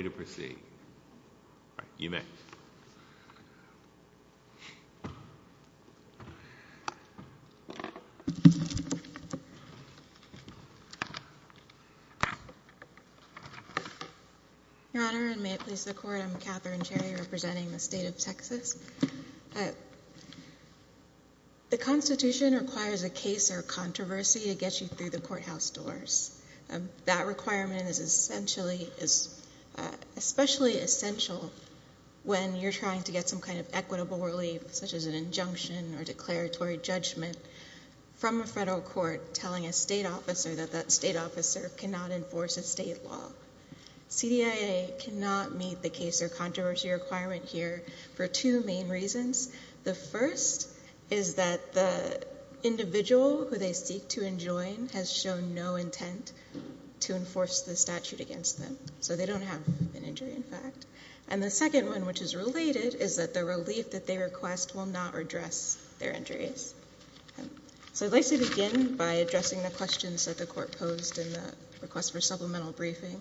The Constitution requires a case or controversy to get you through the courthouse doors. That requirement is especially essential when you're trying to get some kind of equitable relief, such as an injunction or declaratory judgment, from a federal court telling a state officer that that state officer cannot enforce a state law. CDIA cannot meet the case or controversy requirement here for two main reasons. The first is that the individual who they seek to enjoin has shown no intent to enforce the statute against them. So they don't have an injury, in fact. And the second one, which is related, is that the relief that they request will not address their injuries. So I'd like to begin by addressing the questions that the Court posed in the request for supplemental briefing.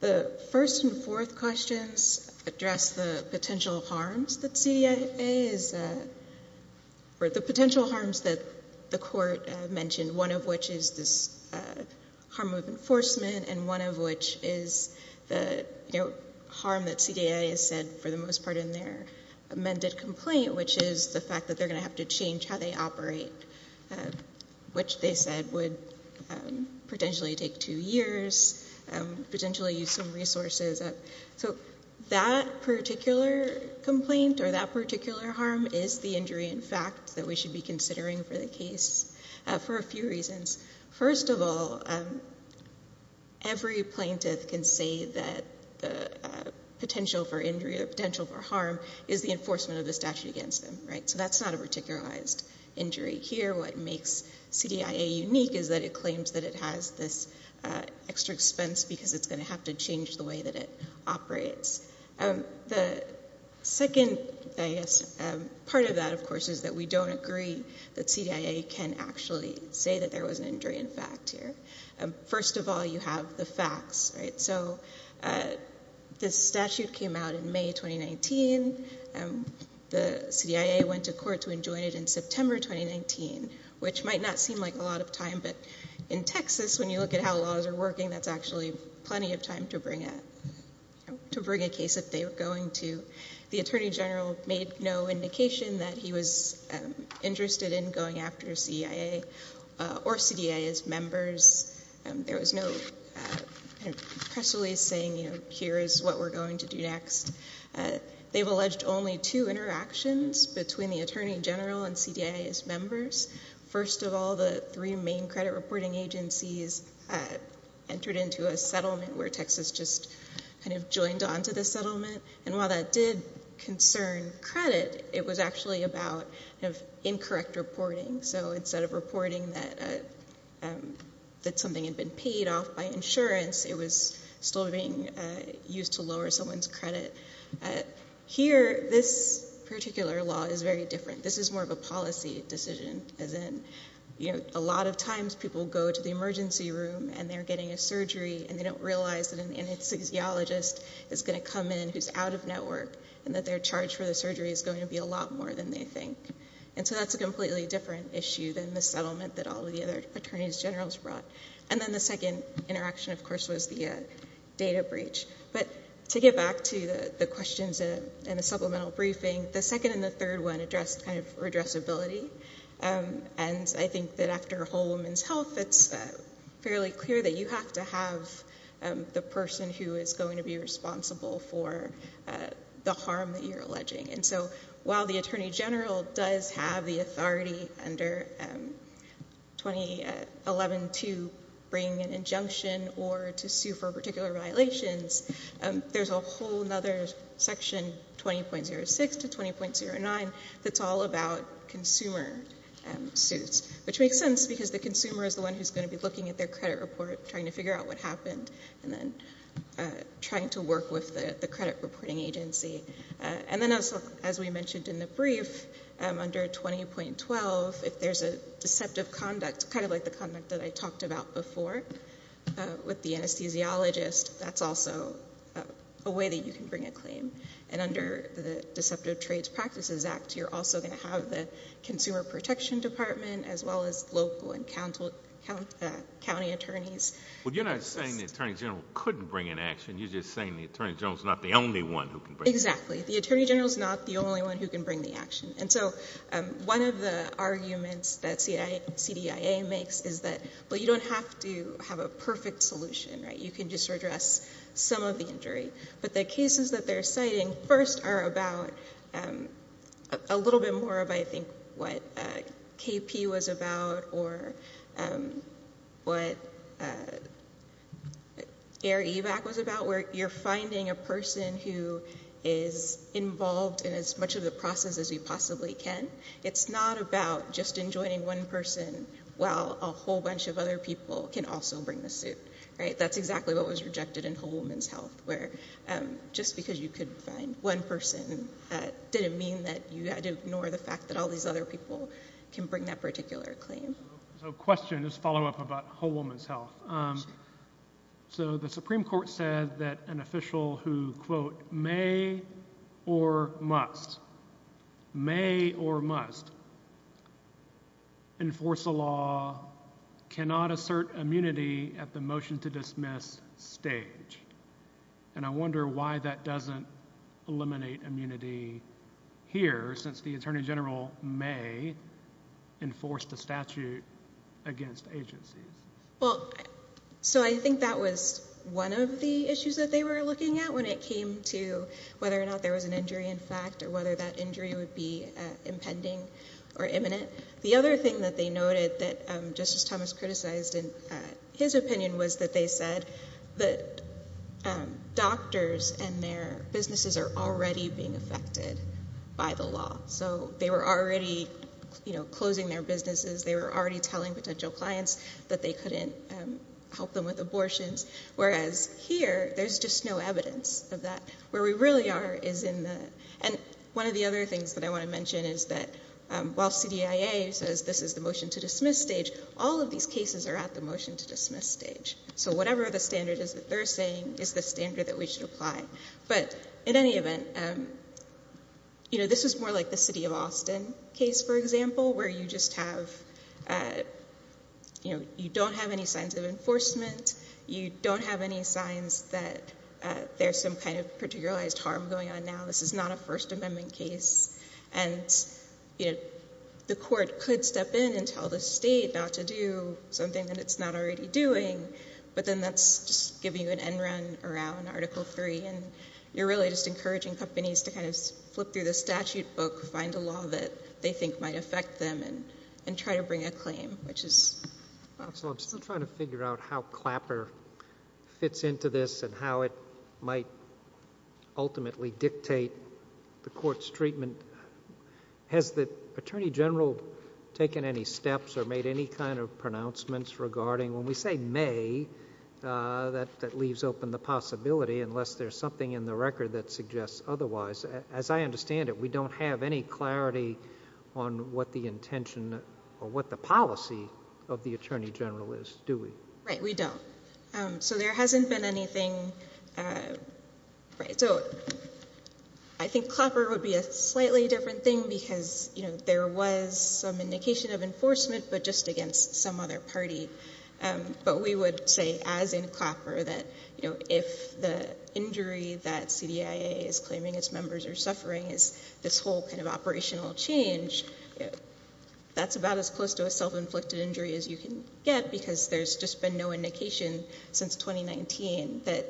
The first and fourth questions address the potential harms that CDIA is—or the potential harms that the Court mentioned, one of which is this harm of enforcement and one of which is the harm that CDIA has said for the most part in their amended complaint, which is the fact that they're going to have to change how they operate, which they said would potentially take two years, potentially use some resources. So that particular complaint or that particular harm is the injury, in fact, that we should be considering for the case for a few reasons. First of all, every plaintiff can say that the potential for injury or potential for harm is the enforcement of the statute against them, right? So that's not a particularized injury here. What makes CDIA unique is that it claims that it has this extra expense because it's going to have to change the way that it operates. The second, I guess, part of that, of course, is that we don't agree that CDIA can actually say that there was an injury, in fact, here. First of all, you have the facts, right? So this statute came out in May 2019. The CDIA went to court to enjoin it in September 2019, which might not seem like a lot of time, but in Texas, when you look at how laws are working, that's actually plenty of time to bring a case that they were going to. The Attorney General made no indication that he was interested in going after CDIA or CDIA's members. There was no press release saying, you know, here is what we're going to do next. They've alleged only two interactions between the Attorney General and CDIA's members. First of all, the three main credit reporting agencies entered into a settlement where Texas just kind of joined onto the settlement, and while that did concern credit, it was actually about incorrect reporting. So instead of reporting that something had been paid off by insurance, it was still being used to lower someone's credit. Here, this particular law is very different. This is more of a policy decision, as in, you know, a lot of times people go to the emergency room, and they're getting a surgery, and they don't realize that an anesthesiologist is going to come in who's out of network, and that their charge for the surgery is going to be a lot more than they think. And so that's a completely different issue than the settlement that all of the other Attorneys General's brought. And then the second interaction, of course, was the data breach. But to get back to the questions in the supplemental briefing, the second and the third one addressed kind of redressability, and I think that after a whole woman's health, it's fairly clear that you have to have the person who is going to be responsible for the harm that you're alleging. And so while the Attorney General does have the authority under 2011 to bring an injunction or to sue for particular violations, there's a whole other section, 20.06 to 20.09, that's all about consumer suits, which makes sense because the consumer is the one who's going to be looking at their credit report, trying to figure out what happened, and then trying to work with the credit reporting agency. And then also, as we mentioned in the brief, under 20.12, if there's a deceptive conduct, kind of like the conduct that I talked about before with the anesthesiologist, that's also a way that you can bring a claim. And under the Deceptive Trades Practices Act, you're also going to have the Consumer Protection Department, as well as local and county attorneys. Well, you're not saying the Attorney General couldn't bring an action. You're just saying the Attorney General is not the only one who can bring it. Exactly. The Attorney General is not the only one who can bring the action. And so one of the arguments that CDIA makes is that, well, you don't have to have a perfect solution, right? You can just redress some of the injury. But the cases that they're citing first are about a little bit more of, I think, what KP was about or what Air Evac was about, where you're finding a person who is involved in as much of the process as you possibly can. It's not about just enjoining one person while a whole bunch of other people can also bring the suit, right? That's exactly what was rejected in Whole Woman's Health, where just because you could find one person, that didn't mean that you had to ignore the fact that all these other people can bring that particular claim. So a question, just a follow-up about Whole Woman's Health. So the Supreme Court said that an official who, quote, may or must, may or must enforce a law, cannot assert immunity at the motion-to-dismiss stage. And I wonder why that doesn't eliminate immunity here, since the Attorney General may enforce the statute against agencies. Well, so I think that was one of the issues that they were looking at when it came to whether or not there was an injury in fact or whether that injury would be impending or imminent. The other thing that they noted that Justice Thomas criticized in his opinion was that they said that doctors and their businesses are already being affected by the law. So they were already, you know, closing their businesses. They were already telling potential clients that they couldn't help them with abortions. Whereas here, there's just no evidence of that. Where we really are is in the – and one of the other things that I want to mention is that while CDIA says this is the motion-to-dismiss stage, all of these cases are at the motion-to-dismiss stage. So whatever the standard is that they're saying is the standard that we should apply. But in any event, you know, this is more like the city of Austin case, for example, where you just have – you know, you don't have any signs of enforcement. You don't have any signs that there's some kind of particularized harm going on now. This is not a First Amendment case. And, you know, the court could step in and tell the state not to do something that it's not already doing. But then that's just giving you an end run around Article III. And you're really just encouraging companies to kind of flip through the statute book, find a law that they think might affect them, and try to bring a claim, which is – So I'm still trying to figure out how Clapper fits into this and how it might ultimately dictate the court's treatment. Has the Attorney General taken any steps or made any kind of pronouncements regarding – that leaves open the possibility unless there's something in the record that suggests otherwise? As I understand it, we don't have any clarity on what the intention or what the policy of the Attorney General is, do we? Right. We don't. So there hasn't been anything – So I think Clapper would be a slightly different thing because, you know, there was some indication of enforcement but just against some other party. But we would say, as in Clapper, that, you know, if the injury that CDIA is claiming its members are suffering is this whole kind of operational change, that's about as close to a self-inflicted injury as you can get because there's just been no indication since 2019 that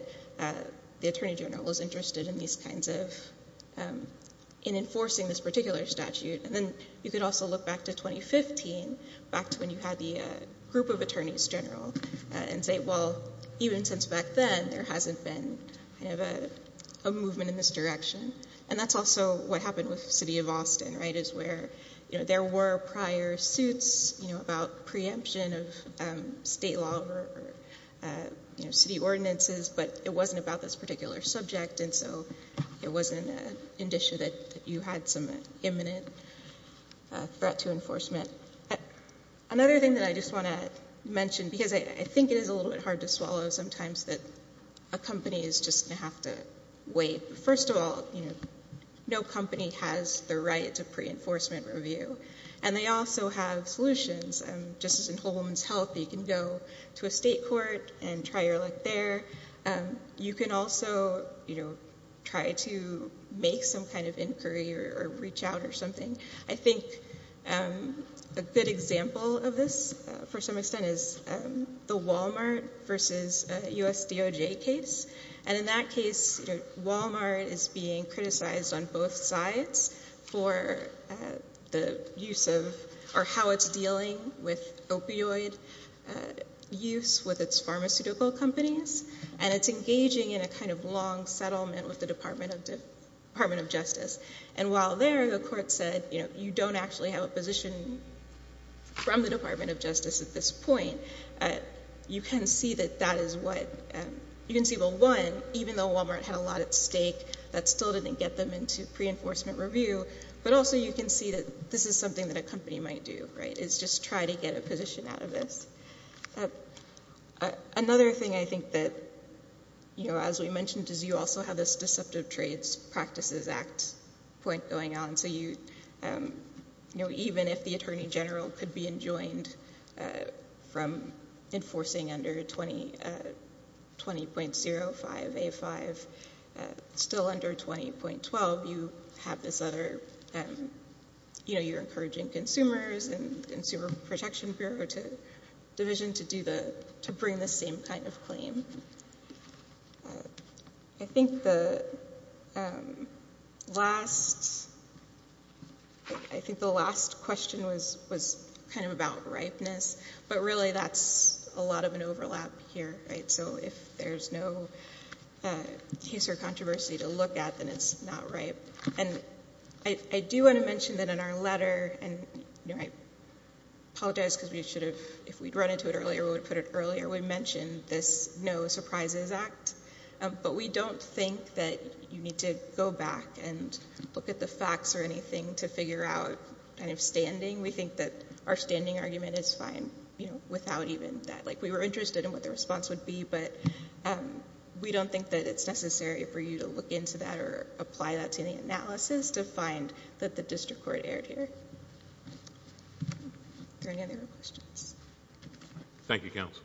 the Attorney General is interested in these kinds of – in enforcing this particular statute. And then you could also look back to 2015, back to when you had the group of attorneys general, and say, well, even since back then, there hasn't been kind of a movement in this direction. And that's also what happened with the city of Austin, right, is where, you know, there were prior suits, you know, about preemption of state law or, you know, city ordinances, but it wasn't about this particular subject and so it wasn't an issue that you had some imminent threat to enforcement. Another thing that I just want to mention, because I think it is a little bit hard to swallow sometimes, that a company is just going to have to wait. First of all, you know, no company has the right to pre-enforcement review. And they also have solutions. Just as in Whole Woman's Health, you can go to a state court and try your luck there. You can also, you know, try to make some kind of inquiry or reach out or something. I think a good example of this, for some extent, is the Walmart versus USDOJ case. And in that case, Walmart is being criticized on both sides for the use of or how it's dealing with opioid use with its pharmaceutical companies. And it's engaging in a kind of long settlement with the Department of Justice. And while there the court said, you know, you don't actually have a position from the Department of Justice at this point, you can see that that is what you can see. Well, one, even though Walmart had a lot at stake, that still didn't get them into pre-enforcement review. But also you can see that this is something that a company might do, right, is just try to get a position out of this. Another thing I think that, you know, as we mentioned, is you also have this Deceptive Trades Practices Act point going on. So, you know, even if the Attorney General could be enjoined from enforcing under 20.05A5, still under 20.12, you have this other, you know, you're encouraging consumers and Consumer Protection Bureau Division to bring this same kind of claim. I think the last, I think the last question was kind of about ripeness, but really that's a lot of an overlap here. So if there's no case or controversy to look at, then it's not ripe. And I do want to mention that in our letter, and I apologize because we should have, if we'd run into it earlier, we mentioned this No Surprises Act. But we don't think that you need to go back and look at the facts or anything to figure out kind of standing. We think that our standing argument is fine, you know, without even that. Like, we were interested in what the response would be, but we don't think that it's necessary for you to look into that or apply that to any analysis to find that the district court erred here. Are there any other questions? Thank you, Counsel.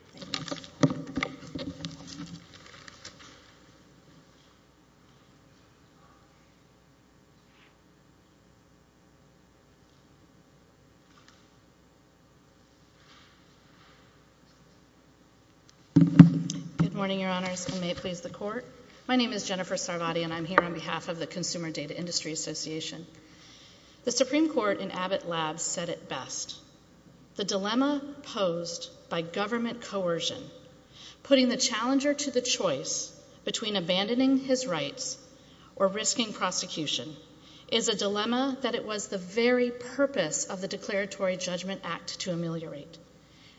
Good morning, Your Honors, and may it please the Court. My name is Jennifer Sarvati, and I'm here on behalf of the Consumer Data Industry Association. The Supreme Court in Abbott Labs said it best. The dilemma posed by government coercion, putting the challenger to the choice between abandoning his rights or risking prosecution, is a dilemma that it was the very purpose of the Declaratory Judgment Act to ameliorate.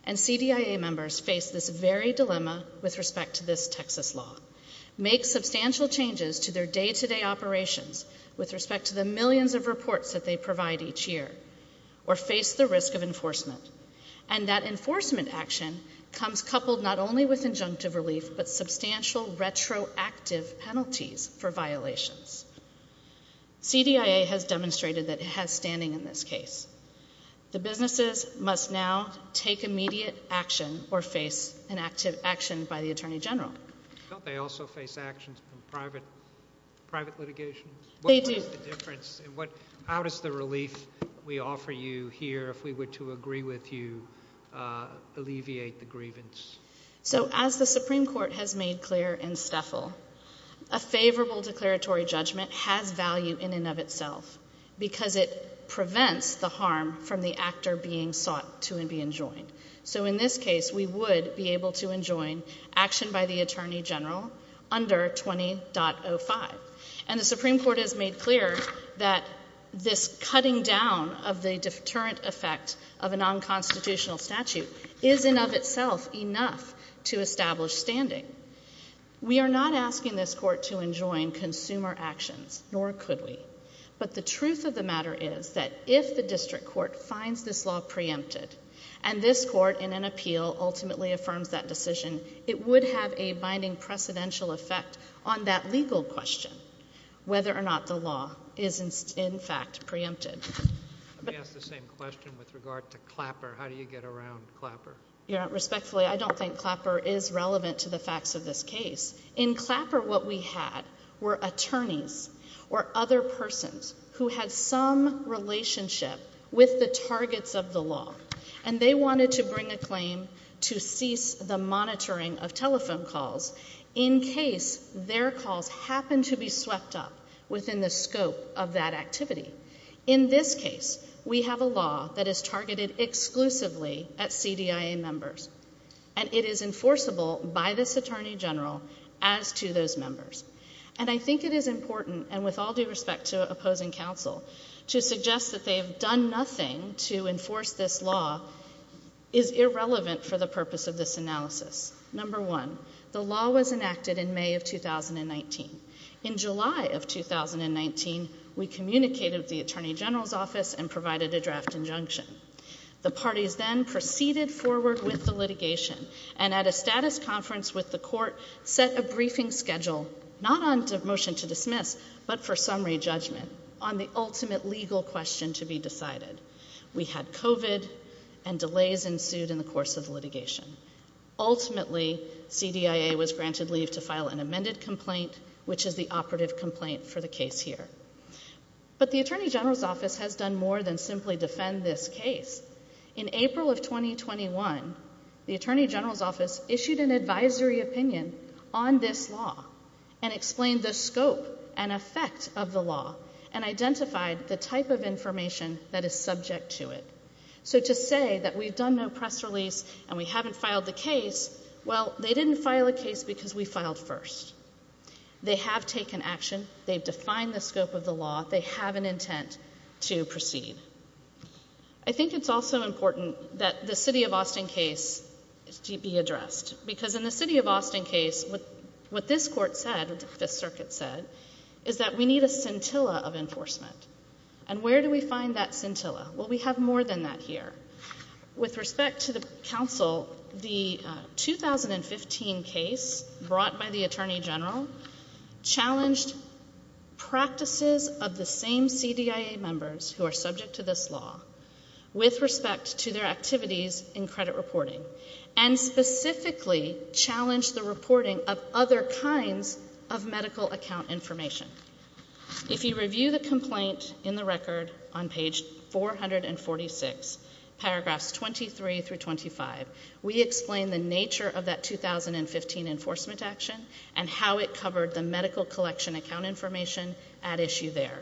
And CDIA members face this very dilemma with respect to this Texas law, make substantial changes to their day-to-day operations with respect to the millions of reports that they provide each year, or face the risk of enforcement. And that enforcement action comes coupled not only with injunctive relief, but substantial retroactive penalties for violations. CDIA has demonstrated that it has standing in this case. The businesses must now take immediate action or face an active action by the Attorney General. Don't they also face actions from private litigation? They do. How does the relief we offer you here, if we were to agree with you, alleviate the grievance? So as the Supreme Court has made clear in Steffel, a favorable declaratory judgment has value in and of itself because it prevents the harm from the actor being sought to and be enjoined. So in this case, we would be able to enjoin action by the Attorney General under 20.05. And the Supreme Court has made clear that this cutting down of the deterrent effect of a nonconstitutional statute is in and of itself enough to establish standing. We are not asking this court to enjoin consumer actions, nor could we. But the truth of the matter is that if the district court finds this law preempted and this court in an appeal ultimately affirms that decision, it would have a binding precedential effect on that legal question, whether or not the law is in fact preempted. Let me ask the same question with regard to Clapper. How do you get around Clapper? Respectfully, I don't think Clapper is relevant to the facts of this case. In Clapper, what we had were attorneys or other persons who had some relationship with the targets of the law, and they wanted to bring a claim to cease the monitoring of telephone calls in case their calls happened to be swept up within the scope of that activity. In this case, we have a law that is targeted exclusively at CDIA members, and it is enforceable by this attorney general as to those members. And I think it is important, and with all due respect to opposing counsel, to suggest that they have done nothing to enforce this law is irrelevant for the purpose of this analysis. Number one, the law was enacted in May of 2019. In July of 2019, we communicated with the attorney general's office and provided a draft injunction. The parties then proceeded forward with the litigation, and at a status conference with the court, set a briefing schedule, not on motion to dismiss, but for summary judgment on the ultimate legal question to be decided. We had COVID, and delays ensued in the course of the litigation. Ultimately, CDIA was granted leave to file an amended complaint, which is the operative complaint for the case here. But the attorney general's office has done more than simply defend this case. In April of 2021, the attorney general's office issued an advisory opinion on this law and explained the scope and effect of the law and identified the type of information that is subject to it. So to say that we've done no press release and we haven't filed the case, well, they didn't file a case because we filed first. They have taken action. They've defined the scope of the law. They have an intent to proceed. I think it's also important that the City of Austin case be addressed because in the City of Austin case, what this court said, what the Fifth Circuit said, is that we need a scintilla of enforcement. And where do we find that scintilla? Well, we have more than that here. With respect to the counsel, the 2015 case brought by the attorney general challenged practices of the same CDIA members who are subject to this law with respect to their activities in credit reporting and specifically challenged the reporting of other kinds of medical account information. If you review the complaint in the record on page 446, paragraphs 23 through 25, we explain the nature of that 2015 enforcement action and how it covered the medical collection account information at issue there.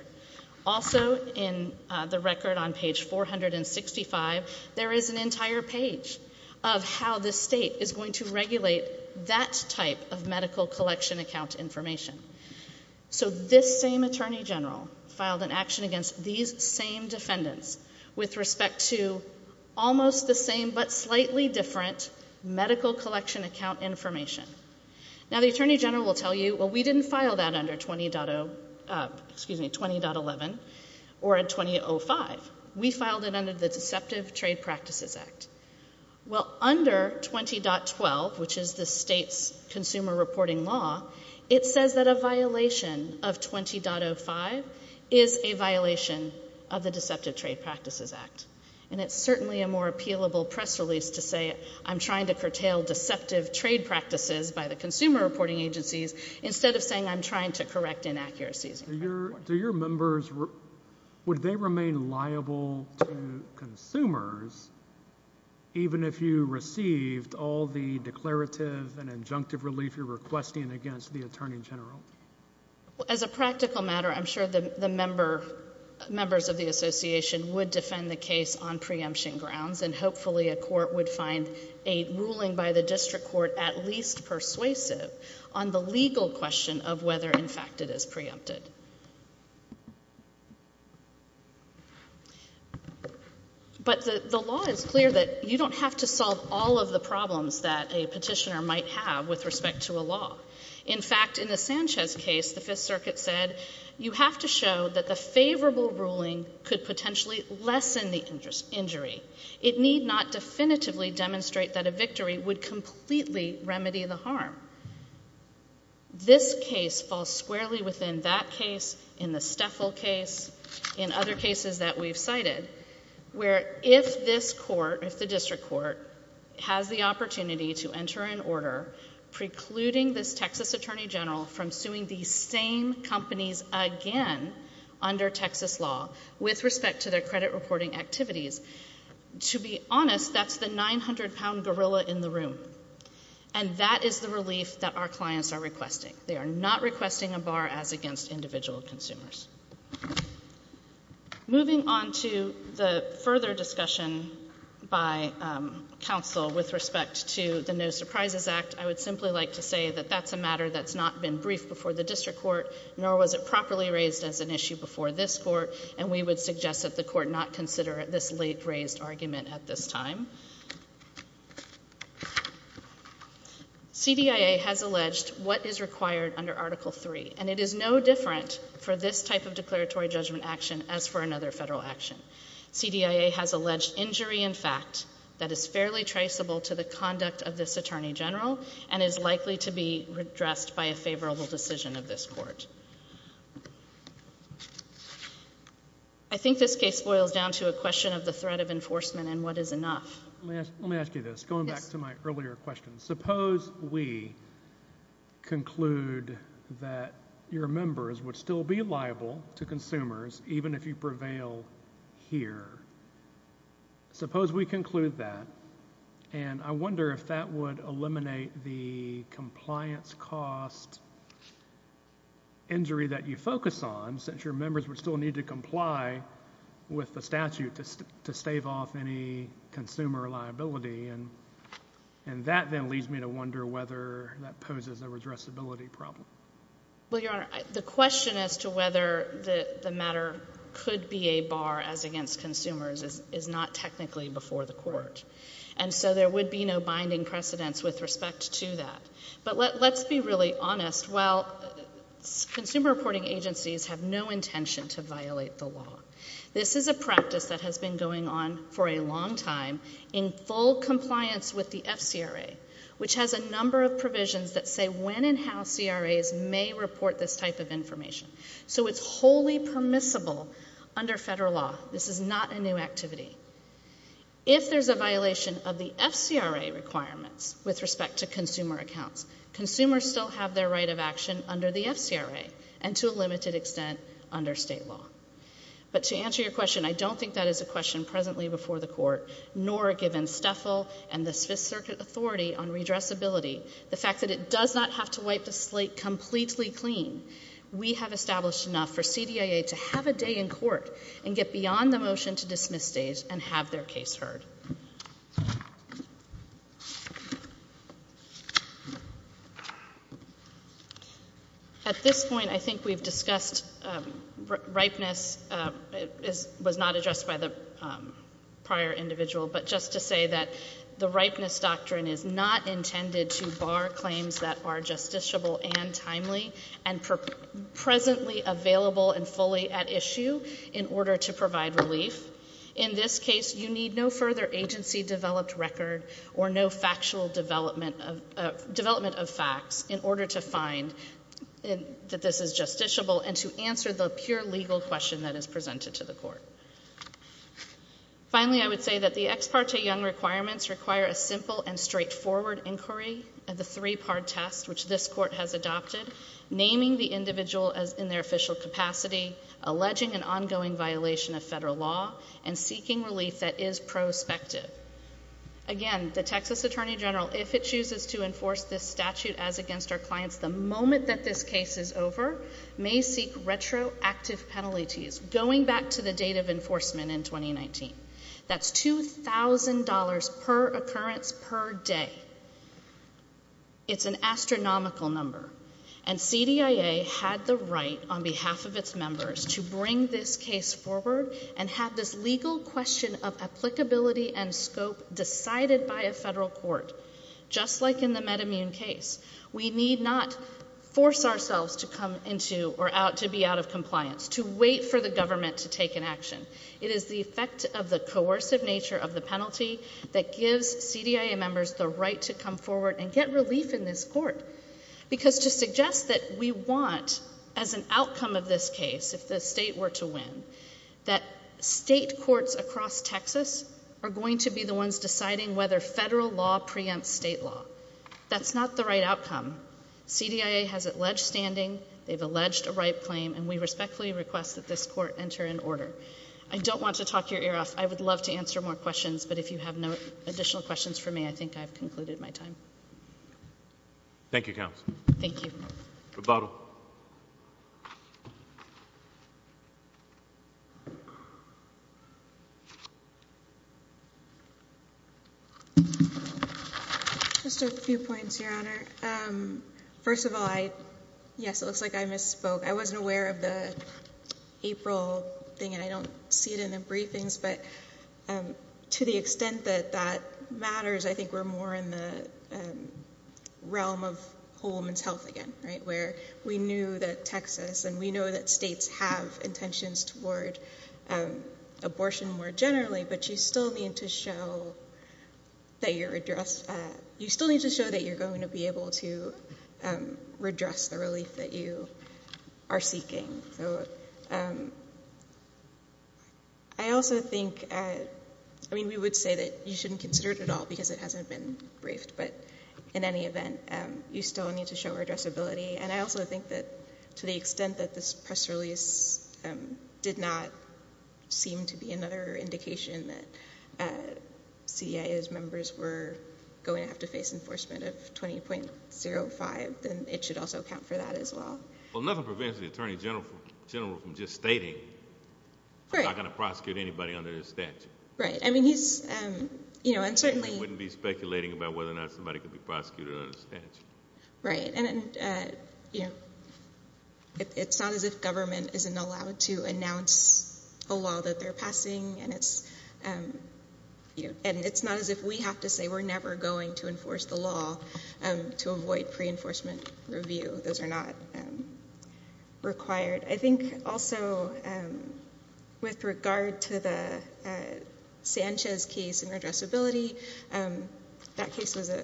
Also in the record on page 465, there is an entire page of how the state is going to regulate that type of medical collection account information. So this same attorney general filed an action against these same defendants with respect to almost the same but slightly different medical collection account information. Now, the attorney general will tell you, well, we didn't file that under 20.11 or 20.05. We filed it under the Deceptive Trade Practices Act. Well, under 20.12, which is the state's consumer reporting law, it says that a violation of 20.05 is a violation of the Deceptive Trade Practices Act, and it's certainly a more appealable press release to say I'm trying to curtail deceptive trade practices by the consumer reporting agencies instead of saying I'm trying to correct inaccuracies. Do your members, would they remain liable to consumers even if you received all the declarative and injunctive relief you're requesting against the attorney general? As a practical matter, I'm sure the members of the association would defend the case on preemption grounds, and hopefully a court would find a ruling by the district court at least persuasive on the legal question of whether, in fact, it is preempted. But the law is clear that you don't have to solve all of the problems that a petitioner might have with respect to a law. In fact, in the Sanchez case, the Fifth Circuit said you have to show that the favorable ruling could potentially lessen the injury. It need not definitively demonstrate that a victory would completely remedy the harm. This case falls squarely within that case, in the Steffel case, in other cases that we've cited, where if this court, if the district court, has the opportunity to enter an order precluding this Texas attorney general from suing these same companies again under Texas law with respect to their credit reporting activities, to be honest, that's the 900-pound gorilla in the room. And that is the relief that our clients are requesting. They are not requesting a bar as against individual consumers. Moving on to the further discussion by counsel with respect to the No Surprises Act, I would simply like to say that that's a matter that's not been briefed before the district court, nor was it properly raised as an issue before this court, and we would suggest that the court not consider this late-raised argument at this time. CDIA has alleged what is required under Article III, and it is no different for this type of declaratory judgment action as for another federal action. CDIA has alleged injury in fact that is fairly traceable to the conduct of this attorney general and is likely to be addressed by a favorable decision of this court. I think this case boils down to a question of the threat of enforcement and what is enough. Let me ask you this, going back to my earlier question. Suppose we conclude that your members would still be liable to consumers even if you prevail here. Suppose we conclude that, and I wonder if that would eliminate the compliance cost injury that you focus on, since your members would still need to comply with the statute to stave off any consumer liability, and that then leads me to wonder whether that poses a redressability problem. Well, Your Honor, the question as to whether the matter could be a bar as against consumers is not technically before the court, and so there would be no binding precedents with respect to that. But let's be really honest. Well, consumer reporting agencies have no intention to violate the law. This is a practice that has been going on for a long time in full compliance with the FCRA, which has a number of provisions that say when and how CRAs may report this type of information. So it's wholly permissible under federal law. This is not a new activity. If there's a violation of the FCRA requirements with respect to consumer accounts, consumers still have their right of action under the FCRA and to a limited extent under state law. But to answer your question, I don't think that is a question presently before the court, nor given STFL and the Fifth Circuit authority on redressability, the fact that it does not have to wipe the slate completely clean. We have established enough for CDIA to have a day in court and get beyond the motion to dismiss states and have their case heard. At this point, I think we've discussed ripeness. It was not addressed by the prior individual, but just to say that the ripeness doctrine is not intended to bar claims that are justiciable and timely and presently available and fully at issue in order to provide relief. or no factual development of facts in order to find that this is justiciable and to answer the pure legal question that is presented to the court. Finally, I would say that the Ex Parte Young requirements require a simple and straightforward inquiry of the three-part test, which this court has adopted, naming the individual in their official capacity, alleging an ongoing violation of federal law, and seeking relief that is prospective. Again, the Texas Attorney General, if it chooses to enforce this statute as against our clients, the moment that this case is over may seek retroactive penalties, going back to the date of enforcement in 2019. That's $2,000 per occurrence per day. It's an astronomical number. And CDIA had the right, on behalf of its members, to bring this case forward and have this legal question of applicability and scope decided by a federal court, just like in the MedImmune case. We need not force ourselves to be out of compliance, to wait for the government to take an action. It is the effect of the coercive nature of the penalty that gives CDIA members the right to come forward and get relief in this court. Because to suggest that we want, as an outcome of this case, if the state were to win, that state courts across Texas are going to be the ones deciding whether federal law preempts state law. That's not the right outcome. CDIA has alleged standing, they've alleged a right claim, and we respectfully request that this court enter in order. I don't want to talk your ear off. I would love to answer more questions, but if you have no additional questions for me, I think I've concluded my time. Thank you, Counsel. Thank you. Rebuttal. Just a few points, Your Honor. First of all, yes, it looks like I misspoke. I wasn't aware of the April thing, and I don't see it in the briefings, but to the extent that that matters, I think we're more in the realm of whole woman's health again, right, where we knew that Texas and we know that states have intentions toward abortion more generally, but you still need to show that you're going to be able to redress the relief that you are seeking. I also think, I mean, we would say that you shouldn't consider it at all because it hasn't been briefed, but in any event, you still need to show redressability. And I also think that to the extent that this press release did not seem to be another indication that CDIA's members were going to have to face enforcement of 20.05, then it should also count for that as well. Well, nothing prevents the Attorney General from just stating I'm not going to prosecute anybody under this statute. Right. I mean, he's, you know, and certainly he wouldn't be speculating about whether or not somebody could be prosecuted under this statute. Right. And, you know, it's not as if government isn't allowed to announce a law that they're passing, and it's not as if we have to say we're never going to enforce the law to avoid pre-enforcement review. Those are not required. I think also with regard to the Sanchez case and redressability, that case was a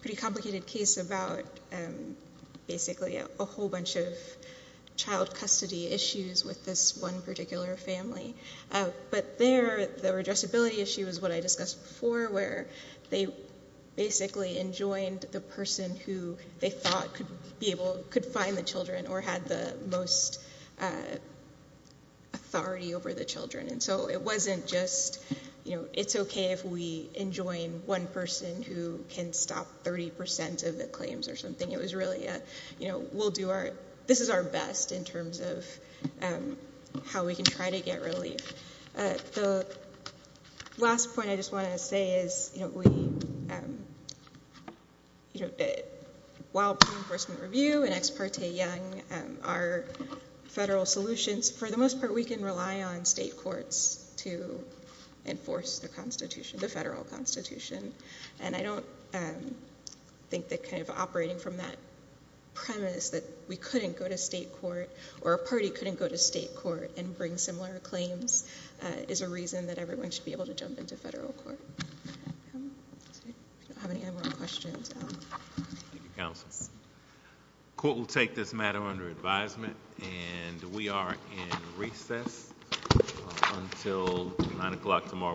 pretty complicated case about basically a whole bunch of child custody issues with this one particular family. But there, the redressability issue is what I discussed before, where they basically enjoined the person who they thought could find the children or had the most authority over the children. And so it wasn't just, you know, it's okay if we enjoin one person who can stop 30% of the claims or something. It was really, you know, this is our best in terms of how we can try to get relief. The last point I just want to say is, you know, while pre-enforcement review and Ex Parte Young are federal solutions, for the most part we can rely on state courts to enforce the federal constitution. And I don't think that kind of operating from that premise that we couldn't go to state court or a party couldn't go to state court and bring similar claims is a reason that everyone should be able to jump into federal court. I don't have any more questions. Thank you, counsel. The court will take this matter under advisement, and we are in recess until 9 o'clock tomorrow morning.